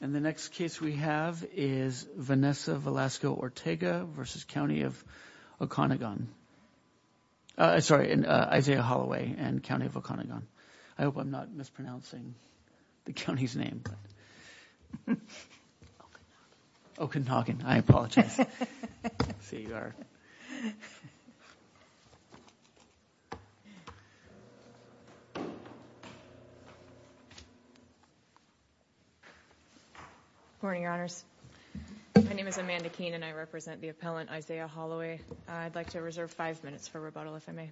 And the next case we have is Vanessa Velasco Ortega versus County of Oconegon Sorry, Isaiah Holloway and County of Oconegon. I hope I'm not mispronouncing the county's name Okanagan I apologize Good morning, your honors. My name is Amanda Keene and I represent the appellant Isaiah Holloway. I'd like to reserve five minutes for rebuttal if I may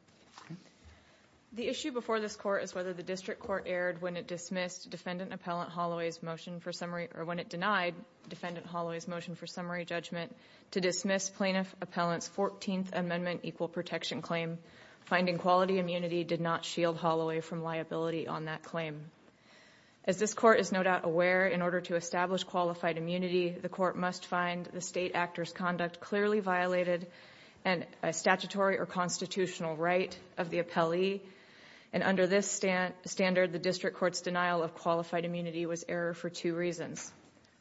The issue before this court is whether the district court erred when it dismissed defendant appellant Holloway's motion for summary or when it denied Defendant Holloway's motion for summary judgment to dismiss plaintiff appellant's 14th amendment equal protection claim Finding quality immunity did not shield Holloway from liability on that claim As this court is no doubt aware in order to establish qualified immunity the court must find the state actors conduct clearly violated and a statutory or constitutional right of the appellee and Under this stand standard the district courts denial of qualified immunity was error for two reasons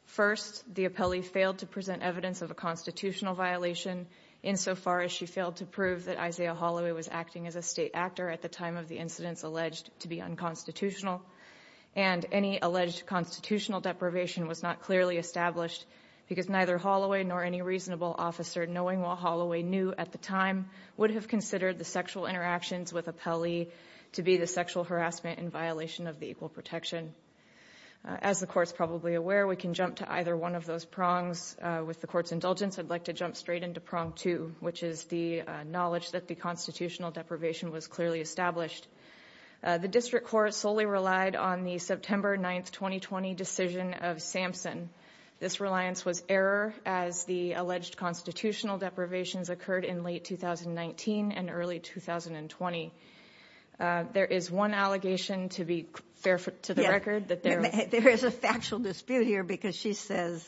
first the appellee failed to present evidence of a constitutional violation in So far as she failed to prove that Isaiah Holloway was acting as a state actor at the time of the incidents alleged to be unconstitutional and Any alleged constitutional deprivation was not clearly established because neither Holloway nor any reasonable officer Knowing what Holloway knew at the time would have considered the sexual interactions with appellee To be the sexual harassment in violation of the equal protection As the courts probably aware we can jump to either one of those prongs with the court's indulgence I'd like to jump straight into prong two, which is the knowledge that the constitutional deprivation was clearly established The district court solely relied on the September 9th 2020 decision of Sampson This reliance was error as the alleged constitutional deprivations occurred in late 2019 and early 2020 There is one allegation to be fair to the record that there is a factual dispute here because she says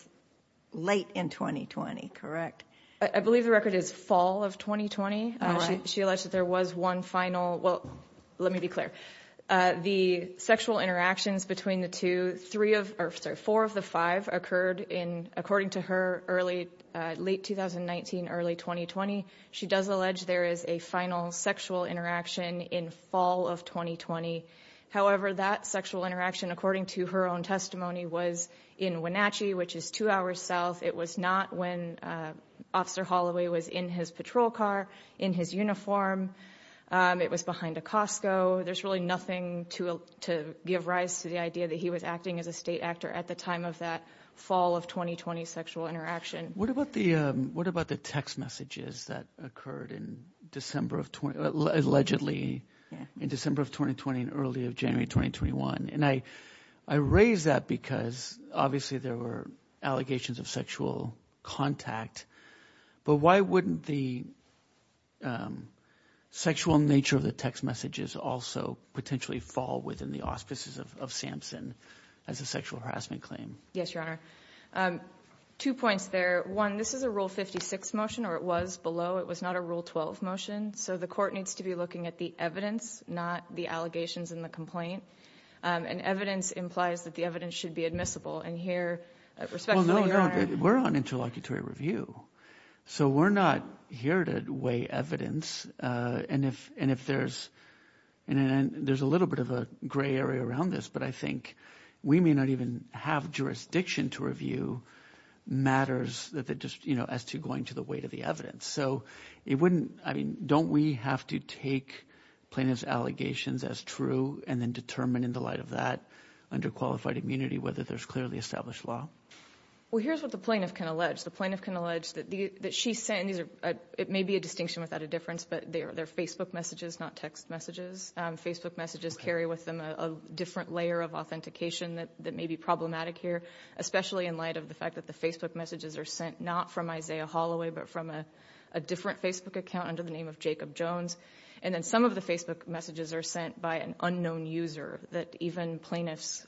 Late in 2020, correct. I believe the record is fall of 2020 She alleged that there was one final well, let me be clear The sexual interactions between the two three of earth's are four of the five occurred in according to her early Late 2019 early 2020. She does allege. There is a final sexual interaction in fall of 2020 however, that sexual interaction according to her own testimony was in Wenatchee, which is two hours south it was not when Officer Holloway was in his patrol car in his uniform It was behind a Costco there's really nothing to To give rise to the idea that he was acting as a state actor at the time of that fall of 2020 sexual interaction What about the what about the text messages that occurred in? December of 20 allegedly in December of 2020 and early of January 2021 and I I raised that because obviously there were allegations of sexual contact but why wouldn't the Sexual nature of the text messages also potentially fall within the auspices of Samson as a sexual harassment claim Yes, your honor Two points there one. This is a rule 56 motion or it was below it was not a rule 12 motion So the court needs to be looking at the evidence not the allegations in the complaint And evidence implies that the evidence should be admissible and here No, no, we're on interlocutory review so we're not here to weigh evidence and if and if there's And then there's a little bit of a gray area around this, but I think we may not even have jurisdiction to review Matters that they just you know as to going to the weight of the evidence So it wouldn't I mean don't we have to take plaintiffs allegations as true and then determine in the light of that Underqualified immunity whether there's clearly established law Well, here's what the plaintiff can allege The plaintiff can allege that the that she sent these are it may be a distinction without a difference But they are their Facebook messages not text messages Facebook messages carry with them a different layer of authentication that that may be problematic here especially in light of the fact that the Facebook messages are sent not from Isaiah Holloway, but from a Different Facebook account under the name of Jacob Jones And then some of the Facebook messages are sent by an unknown user that even plaintiffs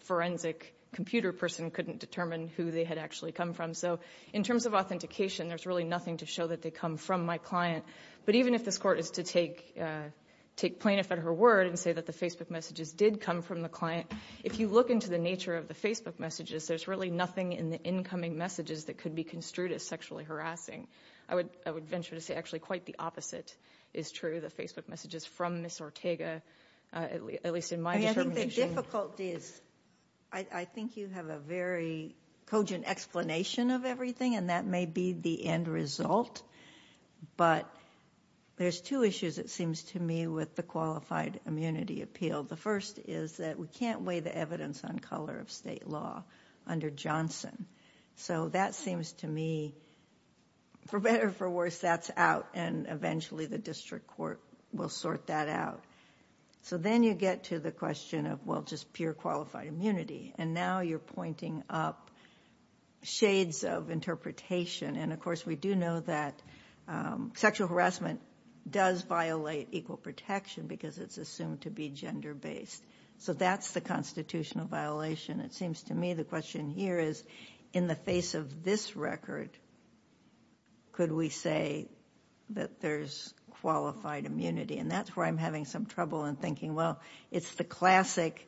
Forensic computer person couldn't determine who they had actually come from. So in terms of authentication There's really nothing to show that they come from my client. But even if this court is to take Take plaintiff at her word and say that the Facebook messages did come from the client If you look into the nature of the Facebook messages There's really nothing in the incoming messages that could be construed as sexually harassing I would I would venture to say actually quite the opposite is true. The Facebook messages from miss Ortega at least in my difficulties, I Think you have a very cogent explanation of everything and that may be the end result but There's two issues. It seems to me with the qualified immunity appeal The first is that we can't weigh the evidence on color of state law under Johnson. So that seems to me For better for worse that's out and eventually the district court will sort that out So then you get to the question of well just pure qualified immunity and now you're pointing up shades of interpretation and of course we do know that Sexual harassment does violate equal protection because it's assumed to be gender-based So that's the constitutional violation. It seems to me the question here is in the face of this record could we say that there's Qualified immunity and that's where I'm having some trouble in thinking. Well, it's the classic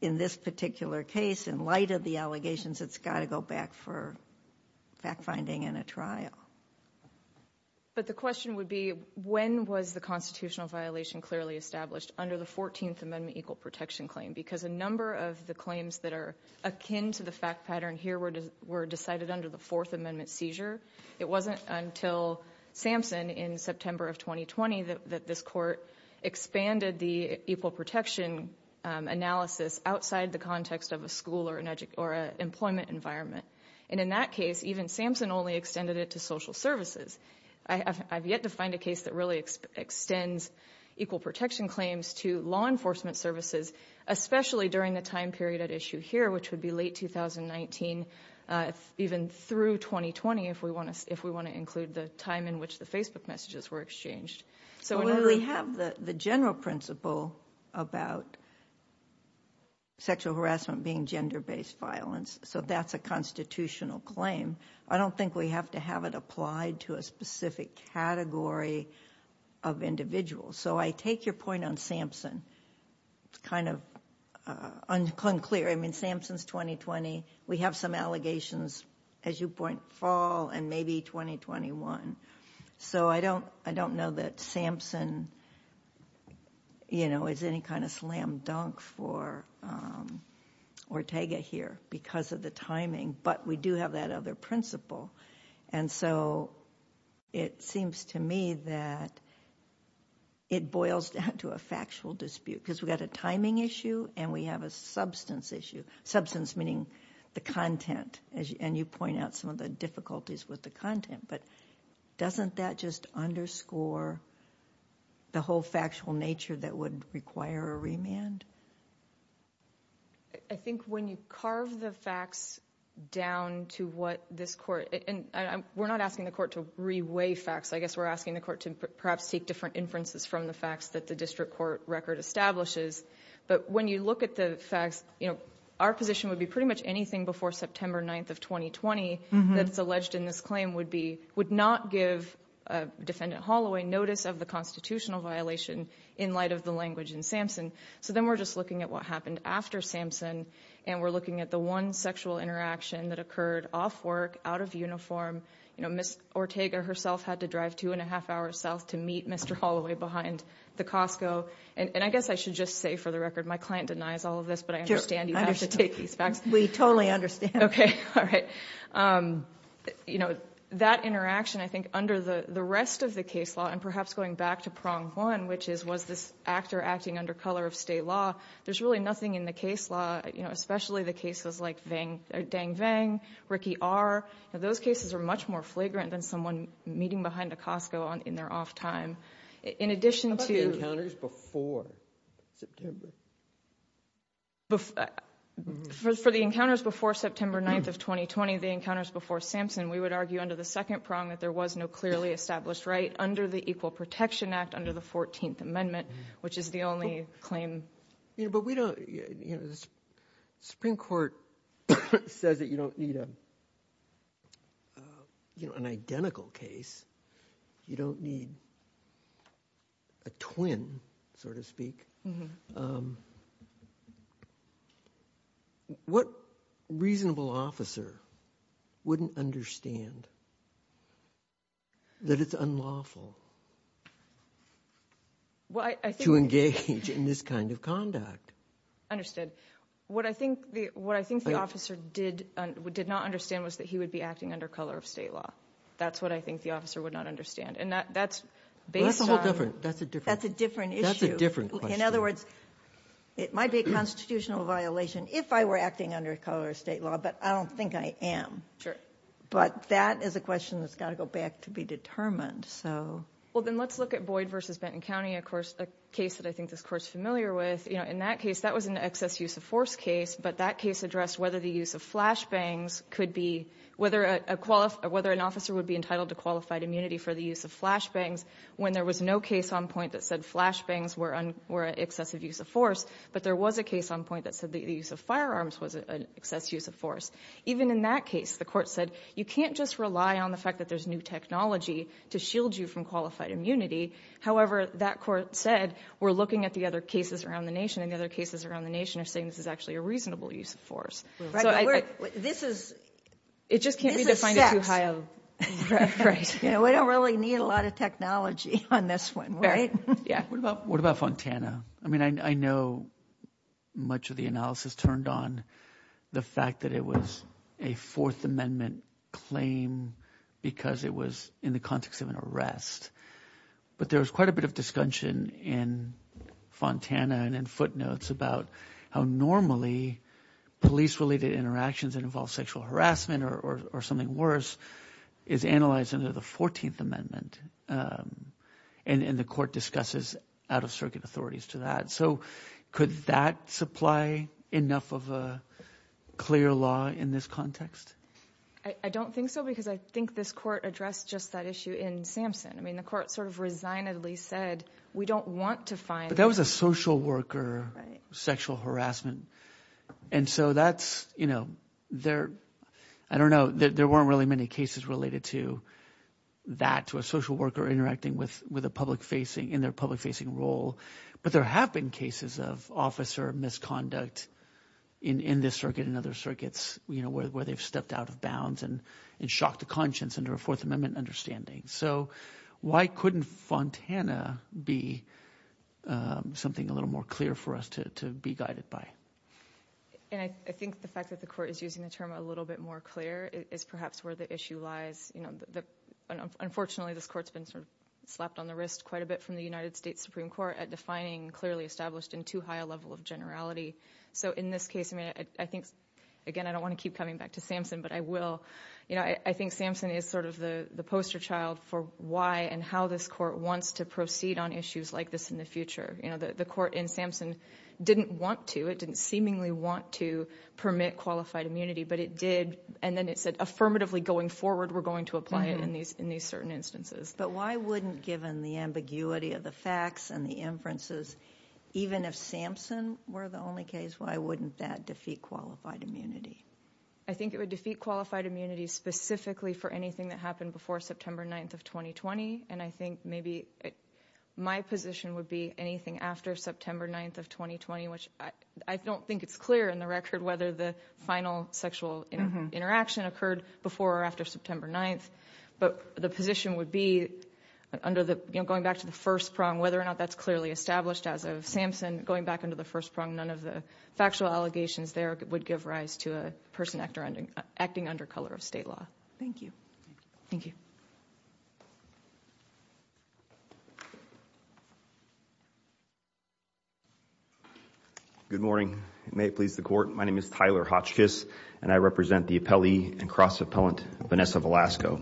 In this particular case in light of the allegations. It's got to go back for fact finding in a trial But the question would be when was the constitutional violation clearly established under the 14th Amendment equal protection claim because a number of the claims That are akin to the fact pattern here. We're just we're decided under the Fourth Amendment seizure. It wasn't until Samson in September of 2020 that this court expanded the equal protection Analysis outside the context of a school or an edge or an employment environment and in that case even Samson only extended it to social Services, I have yet to find a case that really extends equal protection claims to law enforcement services Especially during the time period at issue here, which would be late 2019 Even through 2020 if we want to if we want to include the time in which the Facebook messages were exchanged so we have the the general principle about Sexual harassment being gender-based violence, so that's a constitutional claim I don't think we have to have it applied to a specific category of Individuals, so I take your point on Samson It's kind of Uncle unclear. I mean Samson's 2020. We have some allegations as you point fall and maybe 2021 So I don't I don't know that Samson You know is any kind of slam dunk for Ortega here because of the timing but we do have that other principle and so it seems to me that It boils down to a factual dispute because we got a timing issue and we have a substance issue substance meaning the content as you and you point out some of the difficulties with the content, but Doesn't that just underscore? The whole factual nature that would require a remand. I Think when you carve the facts Down to what this court and I'm we're not asking the court to reweigh facts I guess we're asking the court to perhaps take different inferences from the facts that the district court record establishes But when you look at the facts, you know our position would be pretty much anything before September 9th of 2020 that's alleged in this claim would be would not give a Defendant Holloway notice of the constitutional violation in light of the language in Samson So then we're just looking at what happened after Samson and we're looking at the one sexual interaction that occurred off work out of uniform You know miss Ortega herself had to drive two and a half hours south to meet. Mr Holloway behind the Costco and and I guess I should just say for the record my client denies all of this But I understand you have to take these facts. We totally understand. Okay. All right You know that interaction I think under the the rest of the case law and perhaps going back to prong one Which is was this actor acting under color of state law? There's really nothing in the case law, you know Those cases are much more flagrant than someone meeting behind a Costco on in their off time in addition to First for the encounters before September 9th of 2020 the encounters before Samson We would argue under the second prong that there was no clearly established right under the Equal Protection Act under the 14th Amendment Which is the only claim? Yeah, but we don't you know this Supreme Court Says that you don't need them You know an identical case you don't need a Twin sort of speak What reasonable officer wouldn't understand That it's unlawful Why I think you engage in this kind of conduct Understood what I think the what I think the officer did we did not understand was that he would be acting under color of state Law, that's what I think the officer would not understand and that that's based on different. That's a different. That's a different issue in other words It might be a constitutional violation if I were acting under color of state law, but I don't think I am sure But that is a question that's got to go back to be determined So well, then let's look at Boyd versus Benton County Of course a case that I think this course familiar with, you know in that case that was an excess use-of-force case but that case addressed whether the use of flash bangs could be whether a Qualified whether an officer would be entitled to qualified immunity for the use of flash bangs When there was no case on point that said flash bangs were on were an excessive use of force But there was a case on point that said the use of firearms was an excess use of force Even in that case the court said you can't just rely on the fact that there's new technology to shield you from qualified immunity However, that court said we're looking at the other cases around the nation and the other cases around the nation are saying This is actually a reasonable use of force this is It just can't be defined as too high of Right, you know, we don't really need a lot of technology on this one, right? Yeah, what about what about Fontana? I mean, I know Much of the analysis turned on the fact that it was a Fourth Amendment claim Because it was in the context of an arrest But there was quite a bit of discussion in Fontana and in footnotes about how normally Police related interactions that involve sexual harassment or something worse is analyzed under the Fourteenth Amendment and in the court discusses out-of-circuit authorities to that so could that supply enough of a Clear law in this context. I don't think so because I think this court addressed just that issue in Samson I mean the court sort of resignedly said we don't want to find that was a social worker sexual harassment and so that's you know, they're I don't know that there weren't really many cases related to That to a social worker interacting with with a public facing in their public facing role But there have been cases of officer misconduct in in this circuit and other circuits you know where they've stepped out of bounds and and shocked the conscience under a Fourth Amendment understanding, so Why couldn't Fontana be? Something a little more clear for us to be guided by And I think the fact that the court is using the term a little bit more clear is perhaps where the issue lies you know the Unfortunately, this courts been sort of slapped on the wrist quite a bit from the United States Supreme Court at defining clearly established in Too high a level of generality. So in this case, I mean, I think again I don't want to keep coming back to Samson You know I think Samson is sort of the the poster child for why and how this court wants to proceed on issues like this in the Future, you know the the court in Samson didn't want to it didn't seemingly want to permit qualified immunity But it did and then it said affirmatively going forward. We're going to apply it in these in these certain instances But why wouldn't given the ambiguity of the facts and the inferences even if Samson were the only case Why wouldn't that defeat qualified immunity? I think it would defeat qualified immunity specifically for anything that happened before September 9th of 2020 and I think maybe My position would be anything after September 9th of 2020 Which I don't think it's clear in the record whether the final sexual interaction occurred before or after September 9th but the position would be Under the you know going back to the first prong whether or not that's clearly established as of Samson going back into the first prong None of the factual allegations there would give rise to a person actor ending acting under color of state law. Thank you Thank you Good morning may it please the court My name is Tyler Hotchkiss and I represent the appellee and cross appellant Vanessa Velasco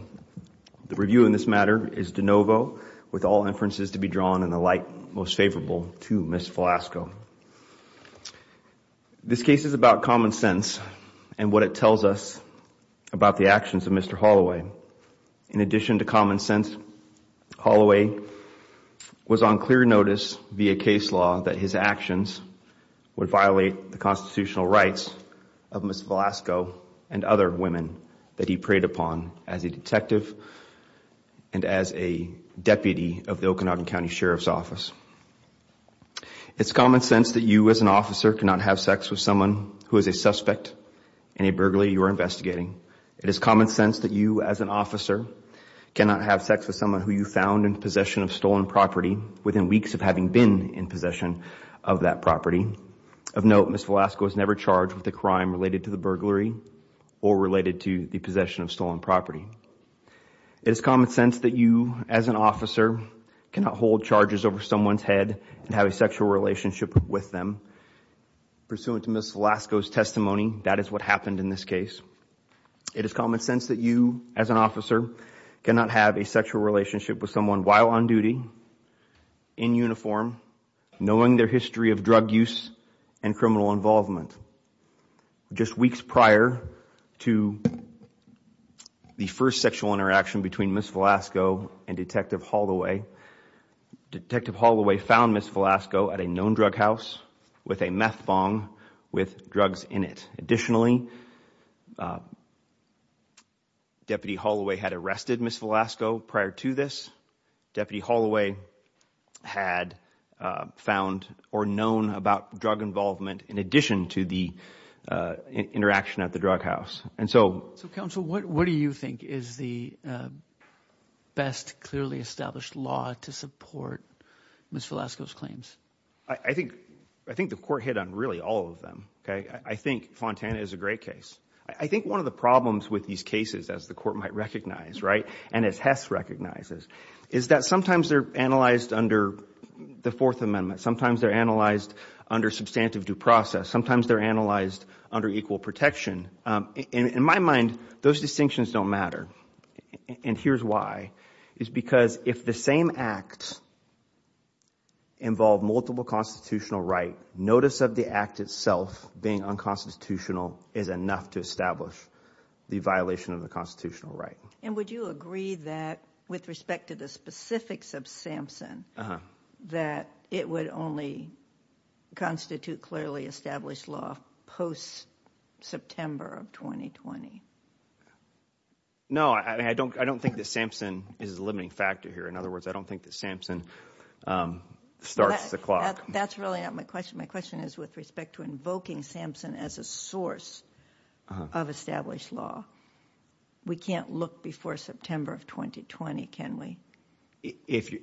The review in this matter is de novo with all inferences to be drawn in the light most favorable to miss Velasco This case is about common sense and what it tells us about the actions of mr. Holloway in addition to common-sense Holloway Was on clear notice via case law that his actions Would violate the constitutional rights of miss Velasco and other women that he preyed upon as a detective and as a deputy of the Okanagan County Sheriff's Office It's common sense that you as an officer cannot have sex with someone who is a suspect in a burglary you are investigating It is common sense that you as an officer Cannot have sex with someone who you found in possession of stolen property within weeks of having been in possession of that property Of note, mr. Velasco was never charged with the crime related to the burglary or related to the possession of stolen property It's common sense that you as an officer cannot hold charges over someone's head and have a sexual relationship with them Pursuant to miss Velasco's testimony. That is what happened in this case It is common sense that you as an officer cannot have a sexual relationship with someone while on duty in uniform knowing their history of drug use and criminal involvement just weeks prior to The first sexual interaction between miss Velasco and detective Holloway Detective Holloway found miss Velasco at a known drug house with a meth bong with drugs in it. Additionally Deputy Holloway had arrested miss Velasco prior to this deputy Holloway had found or known about drug involvement in addition to the Interaction at the drug house. And so so council, what what do you think is the best clearly established law to support Miss Velasco's claims. I think I think the court hit on really all of them. Okay, I think Fontana is a great case I think one of the problems with these cases as the court might recognize right and as Hess recognizes is that sometimes they're analyzed under The Fourth Amendment sometimes they're analyzed under substantive due process. Sometimes they're analyzed under equal protection In my mind those distinctions don't matter And here's why is because if the same act Involved multiple constitutional right notice of the act itself being unconstitutional is enough to establish The violation of the constitutional right and would you agree that with respect to the specifics of Samson? that it would only constitute clearly established law post September of 2020 No, I don't I don't think that Samson is a limiting factor here. In other words, I don't think that Samson Starts the clock. That's really not my question. My question is with respect to invoking Samson as a source of established law We can't look before September of 2020. Can we if you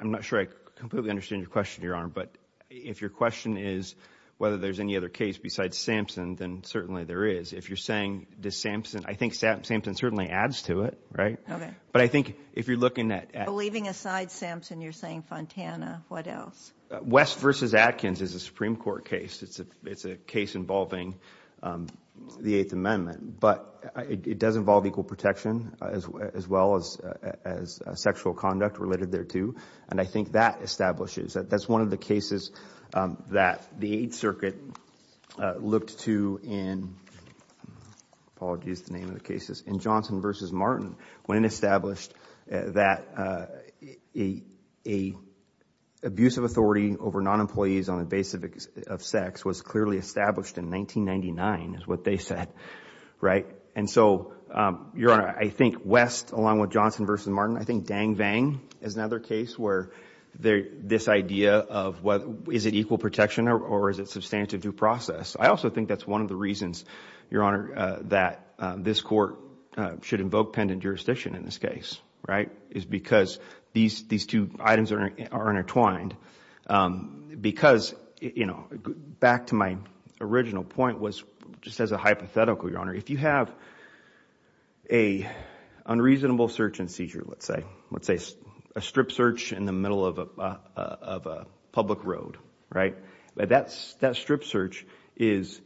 I'm not sure completely understand your question your arm But if your question is whether there's any other case besides Samson then certainly there is if you're saying this Samson I think Sam Samson certainly adds to it, right? Okay, but I think if you're looking at leaving aside Samson, you're saying Fontana What else West versus Atkins is a Supreme Court case. It's a it's a case involving the Eighth Amendment but it does involve equal protection as well as as Sexual conduct related thereto and I think that establishes that that's one of the cases that the Eighth Circuit looked to in Apologies the name of the cases in Johnson versus Martin when established that a a Abusive authority over non-employees on the basis of sex was clearly established in 1999 is what they said, right? And so your honor, I think West along with Johnson versus Martin I think dang-bang is another case where they're this idea of what is it equal protection or is it substantive due process? I also think that's one of the reasons your honor that this court Should invoke pendant jurisdiction in this case, right is because these these two items are intertwined because you know back to my Original point was just as a hypothetical your honor if you have a Unreasonable search and seizure, let's say let's say a strip search in the middle of a public road, right, but that's that strip search is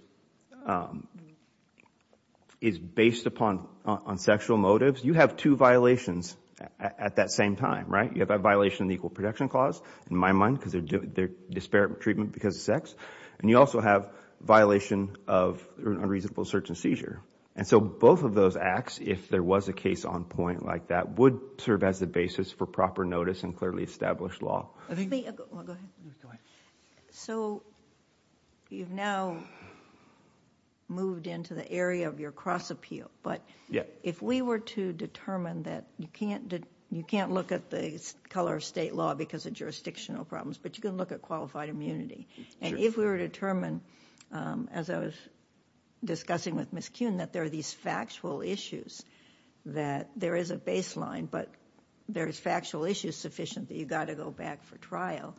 Is based upon on sexual motives you have two violations at that same time, right? you have a violation the equal protection clause in my mind because they're Disparate treatment because of sex and you also have violation of unreasonable search and seizure and so both of those acts if there was a case on point like that would serve as the basis for Proper notice and clearly established law So you've now Moved into the area of your cross appeal But yeah If we were to determine that you can't did you can't look at the color of state law because of jurisdictional problems But you can look at qualified immunity and if we were determined as I was Discussing with Miss Kuhn that there are these factual issues That there is a baseline, but there is factual issues sufficient that you got to go back for trial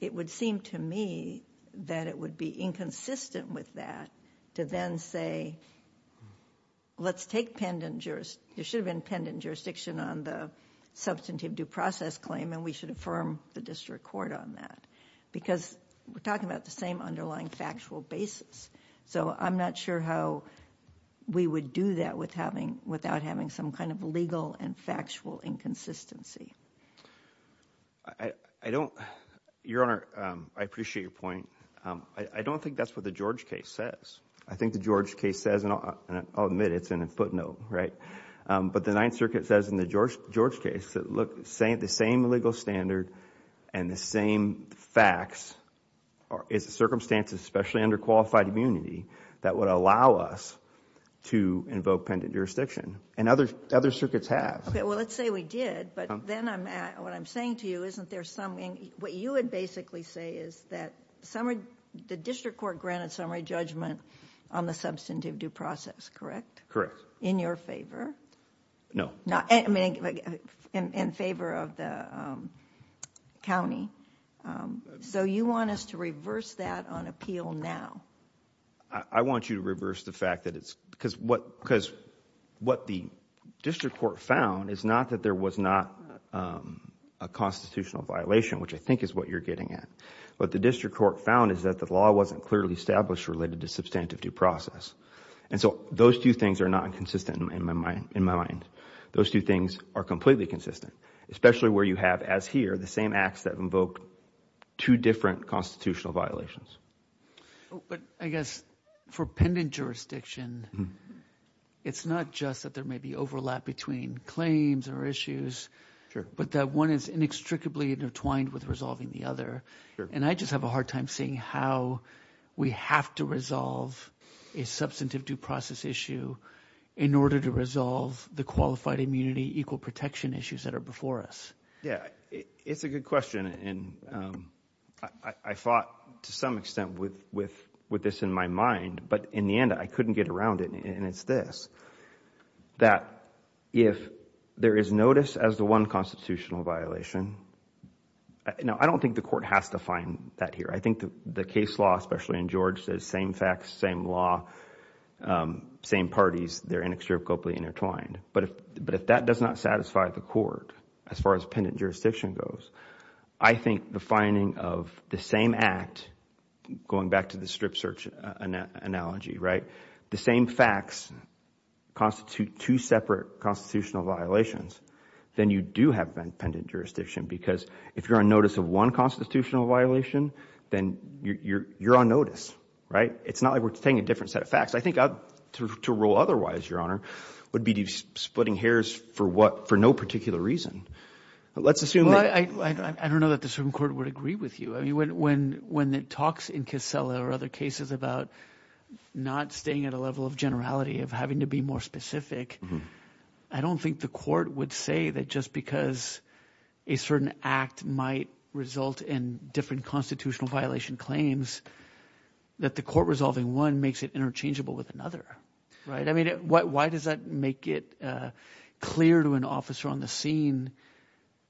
It would seem to me that it would be inconsistent with that to then say Let's take pendent jurors. There should have been pendent jurisdiction on the Substantive due process claim and we should affirm the district court on that because we're talking about the same underlying factual basis so I'm not sure how We would do that with having without having some kind of legal and factual inconsistency. I Don't your honor I appreciate your point. I don't think that's what the George case says I think the George case says and I'll admit it's in a footnote, right? But the Ninth Circuit says in the George George case that look saying the same legal standard and the same facts Is the circumstances especially under qualified immunity that would allow us? To invoke pendent jurisdiction and other other circuits have okay Well, let's say we did but then I'm at what I'm saying to you Isn't there something what you would basically say? Is that summary the district court granted summary judgment on the substantive due process, correct? Correct in your favor No, no, I mean in favor of the County So you want us to reverse that on appeal now? I want you to reverse the fact that it's because what because what the district court found is not that there was not a Constitutional violation which I think is what you're getting at But the district court found is that the law wasn't clearly established related to substantive due process And so those two things are not consistent in my mind in my mind those two things are completely consistent Especially where you have as here the same acts that invoked two different constitutional violations But I guess for pendent jurisdiction It's not just that there may be overlap between claims or issues Sure, but that one is inextricably intertwined with resolving the other and I just have a hard time seeing how We have to resolve a Substantive due process issue in order to resolve the qualified immunity equal protection issues that are before us yeah, it's a good question and I Fought to some extent with with with this in my mind, but in the end I couldn't get around it and it's this that if there is notice as the one constitutional violation You know, I don't think the court has to find that here I think the case law especially in George says same facts same law Same parties. They're inextricably intertwined But but if that does not satisfy the court as far as pendant jurisdiction goes, I think the finding of the same act Going back to the strip search analogy, right the same facts Constitute two separate constitutional violations Then you do have been pendent jurisdiction because if you're on notice of one constitutional violation, then you're you're on notice, right? It's not like we're taking a different set of facts I think I've to rule otherwise your honor would be to splitting hairs for what for no particular reason Let's assume. I don't know that the Supreme Court would agree with you. I mean when when that talks in Casella or other cases about Not staying at a level of generality of having to be more specific I don't think the court would say that just because a certain act might result in different constitutional violation claims That the court resolving one makes it interchangeable with another right? I mean, why does that make it? clear to an officer on the scene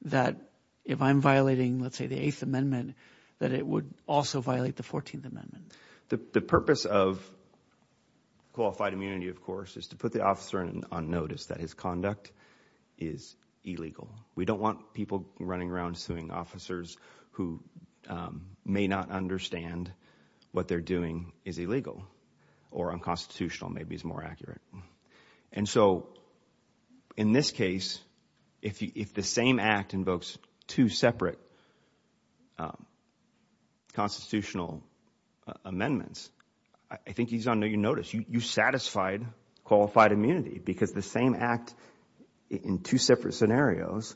That if I'm violating, let's say the Eighth Amendment That it would also violate the Fourteenth Amendment the purpose of Qualified immunity, of course is to put the officer in on notice that his conduct is Illegal, we don't want people running around suing officers who? May not understand what they're doing is illegal or unconstitutional. Maybe it's more accurate. And so In this case if the same act invokes two separate Constitutional Amendments, I think he's on your notice you satisfied qualified immunity because the same act in two separate scenarios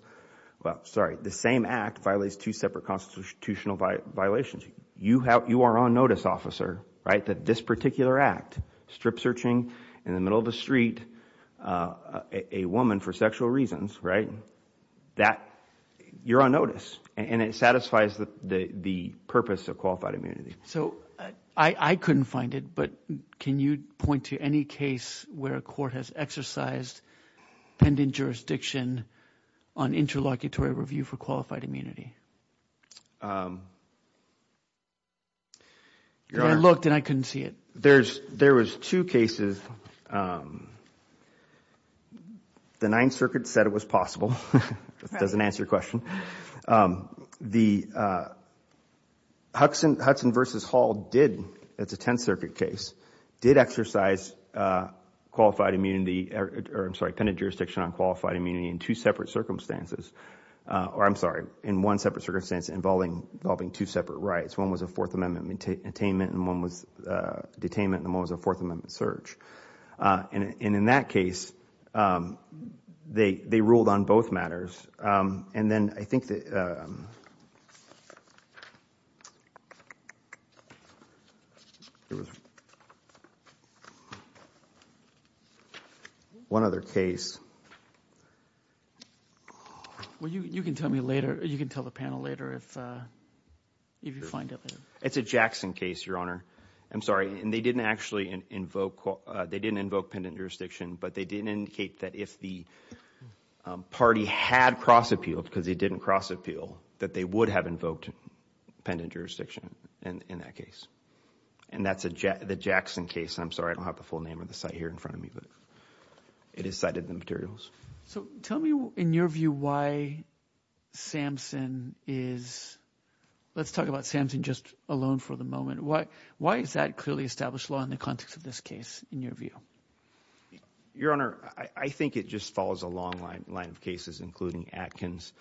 Well, sorry the same act violates two separate constitutional violations You have you are on notice officer right that this particular act strip-searching in the middle of the street a woman for sexual reasons, right that You're on notice and it satisfies the the purpose of qualified immunity So I I couldn't find it, but can you point to any case where a court has exercised? pending jurisdiction on interlocutory review for qualified immunity You're looked and I couldn't see it there's there was two cases The Ninth Circuit said it was possible. It doesn't answer your question the Hudson Hudson versus Hall did it's a Tenth Circuit case did exercise Qualified immunity or I'm sorry pendant jurisdiction on qualified immunity in two separate circumstances Or I'm sorry in one separate circumstance involving involving two separate rights. One was a Fourth Amendment attainment and one was Detainment the most a Fourth Amendment search and in that case They they ruled on both matters and then I think that One other case Well, you you can tell me later you can tell the panel later if If you find it, it's a Jackson case your honor. I'm sorry, and they didn't actually invoke they didn't invoke pendant jurisdiction, but they didn't indicate that if the Party had cross appealed because it didn't cross appeal that they would have invoked Pendant jurisdiction and in that case and that's a jet the Jackson case. I'm sorry I don't have the full name of the site here in front of me, but It is cited in the materials. So tell me in your view why? Samson is Let's talk about Samson just alone for the moment Why is that clearly established law in the context of this case in your view Your honor. I think it just follows a long line line of cases including Atkins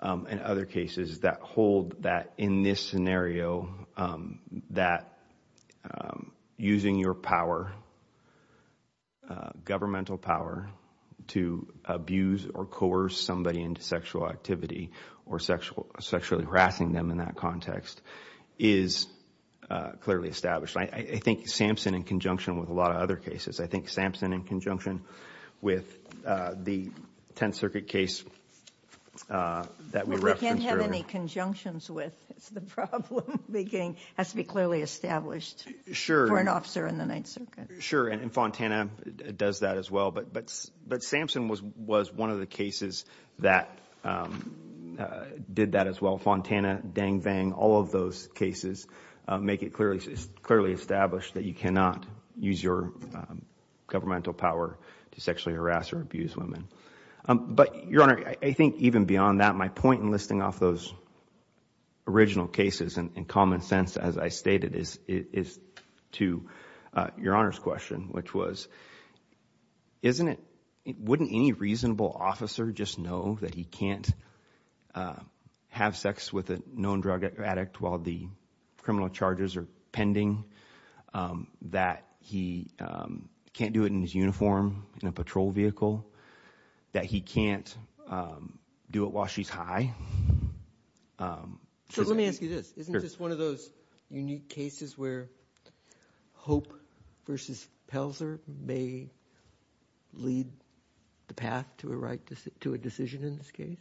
And other cases that hold that in this scenario that Using your power Governmental power to abuse or coerce somebody into sexual activity or sexual sexually harassing them in that context is Clearly established. I think Samson in conjunction with a lot of other cases. I think Samson in conjunction with the Tenth Circuit case That we can't have any conjunctions with Beginning has to be clearly established Sure an officer in the Ninth Circuit sure and Fontana does that as well? But but but Samson was was one of the cases that Did that as well Fontana dang-bang all of those cases make it clearly clearly established that you cannot use your Governmental power to sexually harass or abuse women But your honor, I think even beyond that my point in listing off those original cases and common sense as I stated is is to your honors question, which was Isn't it wouldn't any reasonable officer just know that he can't Have sex with a known drug addict while the criminal charges are pending that he Can't do it in his uniform in a patrol vehicle That he can't Do it while she's high So let me ask you this isn't this one of those unique cases where? Hope versus Pelser may lead The path to a right to sit to a decision in this case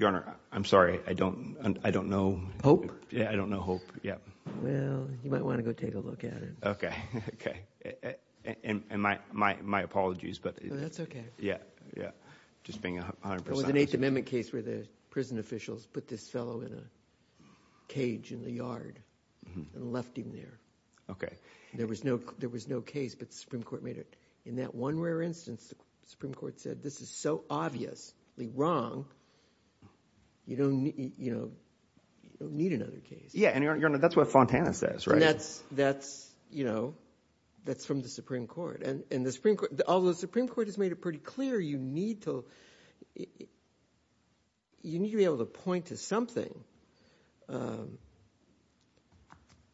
your honor. I'm sorry. I don't I don't know hope Yeah, I don't know. Hope. Yeah. Well, you might want to go take a look at it. Okay, okay And my my my apologies, but that's okay. Yeah. Yeah, just being a 8th Amendment case where the prison officials put this fellow in a cage in the yard And left him there, okay There was no there was no case but the Supreme Court made it in that one rare instance. The Supreme Court said this is so obviously wrong You don't need you know Need another case. Yeah, and you're not that's what Fontana says, right? That's that's you know That's from the Supreme Court and in the Supreme Court. Although the Supreme Court has made it pretty clear. You need to You need to be able to point to something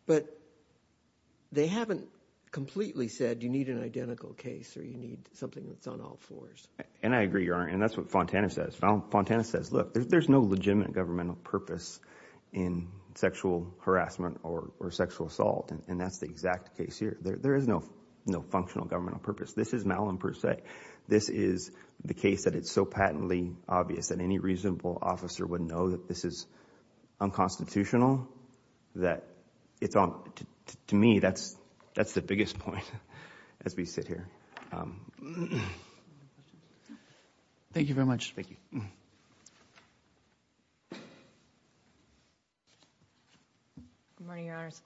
But They haven't Completely said you need an identical case or you need something that's on all floors and I agree your honor And that's what Fontana says now Fontana says look there's no legitimate governmental purpose in Sexual harassment or sexual assault and that's the exact case here. There is no no functional governmental purpose This is Malin per se This is the case that it's so patently obvious that any reasonable officer would know that this is Unconstitutional that it's on to me. That's that's the biggest point as we sit here Thank you very much, thank you Morning your honors.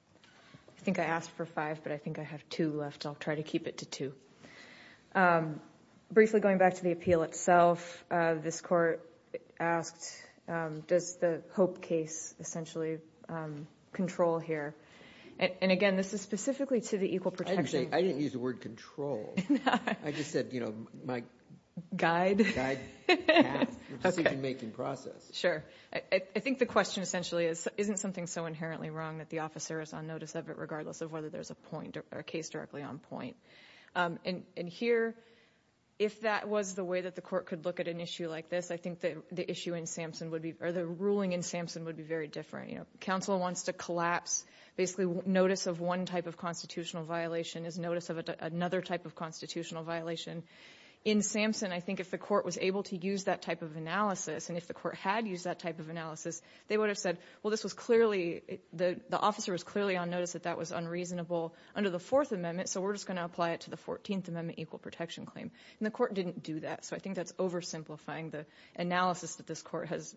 I think I asked for five, but I think I have two left. I'll try to keep it to two Briefly going back to the appeal itself. This court asked does the hope case essentially Control here. And again, this is specifically to the equal protection. I didn't use the word control Sure, I think the question essentially is isn't something so inherently wrong that the officer is on notice of it regardless of whether there's a Point or a case directly on point And in here if that was the way that the court could look at an issue like this I think that the issue in Samson would be or the ruling in Samson would be very different, you know Counsel wants to collapse basically notice of one type of constitutional violation is notice of another type of constitutional violation In Samson, I think if the court was able to use that type of analysis And if the court had used that type of analysis, they would have said well This was clearly the the officer was clearly on notice that that was unreasonable under the Fourth Amendment So we're just going to apply it to the 14th Amendment equal protection claim and the court didn't do that so I think that's oversimplifying the analysis that this court has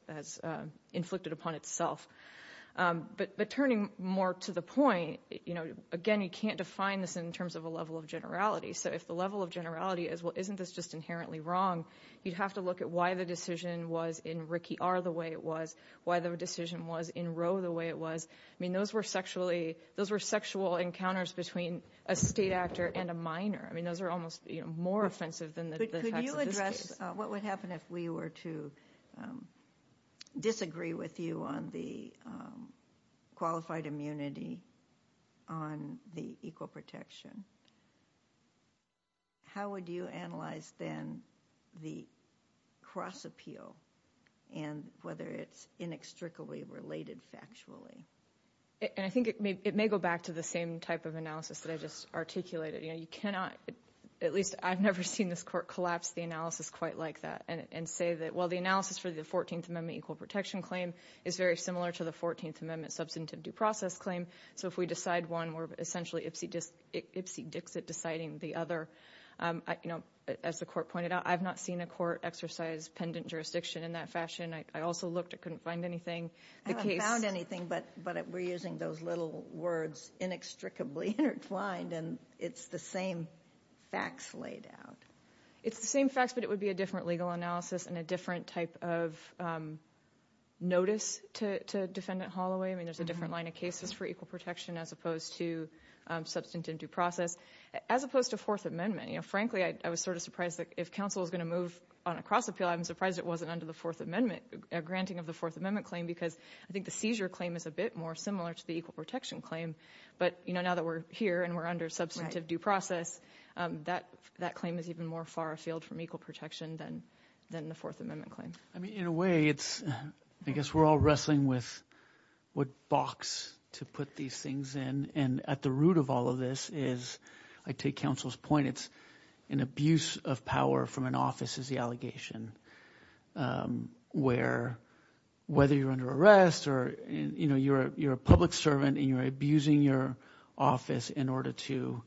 inflicted upon itself But but turning more to the point, you know, again, you can't define this in terms of a level of generality So if the level of generality as well, isn't this just inherently wrong? You'd have to look at why the decision was in Ricky are the way it was Why the decision was in row the way it was I mean those were sexually those were sexual encounters between a state actor and a minor I mean those are almost you know more offensive than what would happen if we were to Disagree with you on the Qualified immunity on the equal protection How would you analyze then the cross appeal and Whether it's inextricably related factually And I think it may go back to the same type of analysis that I just articulated, you know You cannot at least I've never seen this court collapse the analysis quite like that and say that well the analysis for the 14th Amendment Equal protection claim is very similar to the 14th Amendment substantive due process claim So if we decide one we're essentially ipsy-dix it deciding the other You know as the court pointed out, I've not seen a court exercise pendant jurisdiction in that fashion I also looked I couldn't find anything the case found anything but but we're using those little words inextricably intertwined and it's the same Facts laid out. It's the same facts, but it would be a different legal analysis and a different type of Notice to defendant Holloway, I mean there's a different line of cases for equal protection as opposed to Substantive due process as opposed to Fourth Amendment, you know, frankly I was sort of surprised that if counsel is going to move on a cross appeal I'm surprised it wasn't under the Fourth Amendment a granting of the Fourth Amendment claim because I think the seizure claim is a bit more Similar to the equal protection claim, but you know now that we're here and we're under substantive due process That that claim is even more far afield from equal protection than than the Fourth Amendment claim I mean in a way it's I guess we're all wrestling with What box to put these things in and at the root of all of this is I take counsel's point? An abuse of power from an office is the allegation Where whether you're under arrest or you know, you're you're a public servant and you're abusing your office in order to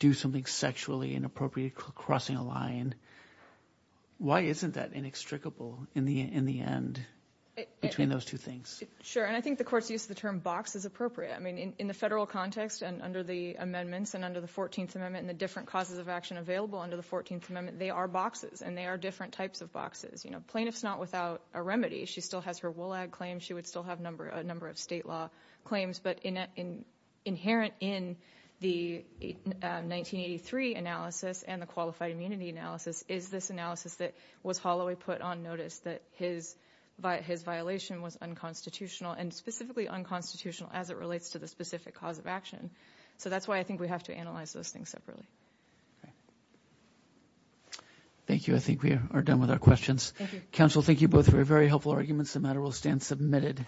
Do something sexually inappropriate crossing a line Why isn't that inextricable in the in the end? Between those two things sure and I think the court's use of the term box is appropriate I mean in the federal context and under the Amendments and under the 14th Amendment and the different causes of action available under the 14th Amendment They are boxes and they are different types of boxes, you know plaintiffs not without a remedy She still has her wool ad claims. She would still have number a number of state law claims, but in inherent in the 1983 analysis and the qualified immunity analysis is this analysis that was Holloway put on notice that his By his violation was unconstitutional and specifically unconstitutional as it relates to the specific cause of action So that's why I think we have to analyze those things separately Thank you, I think we are done with our questions counsel, thank you both for a very helpful arguments the matter will stand submitted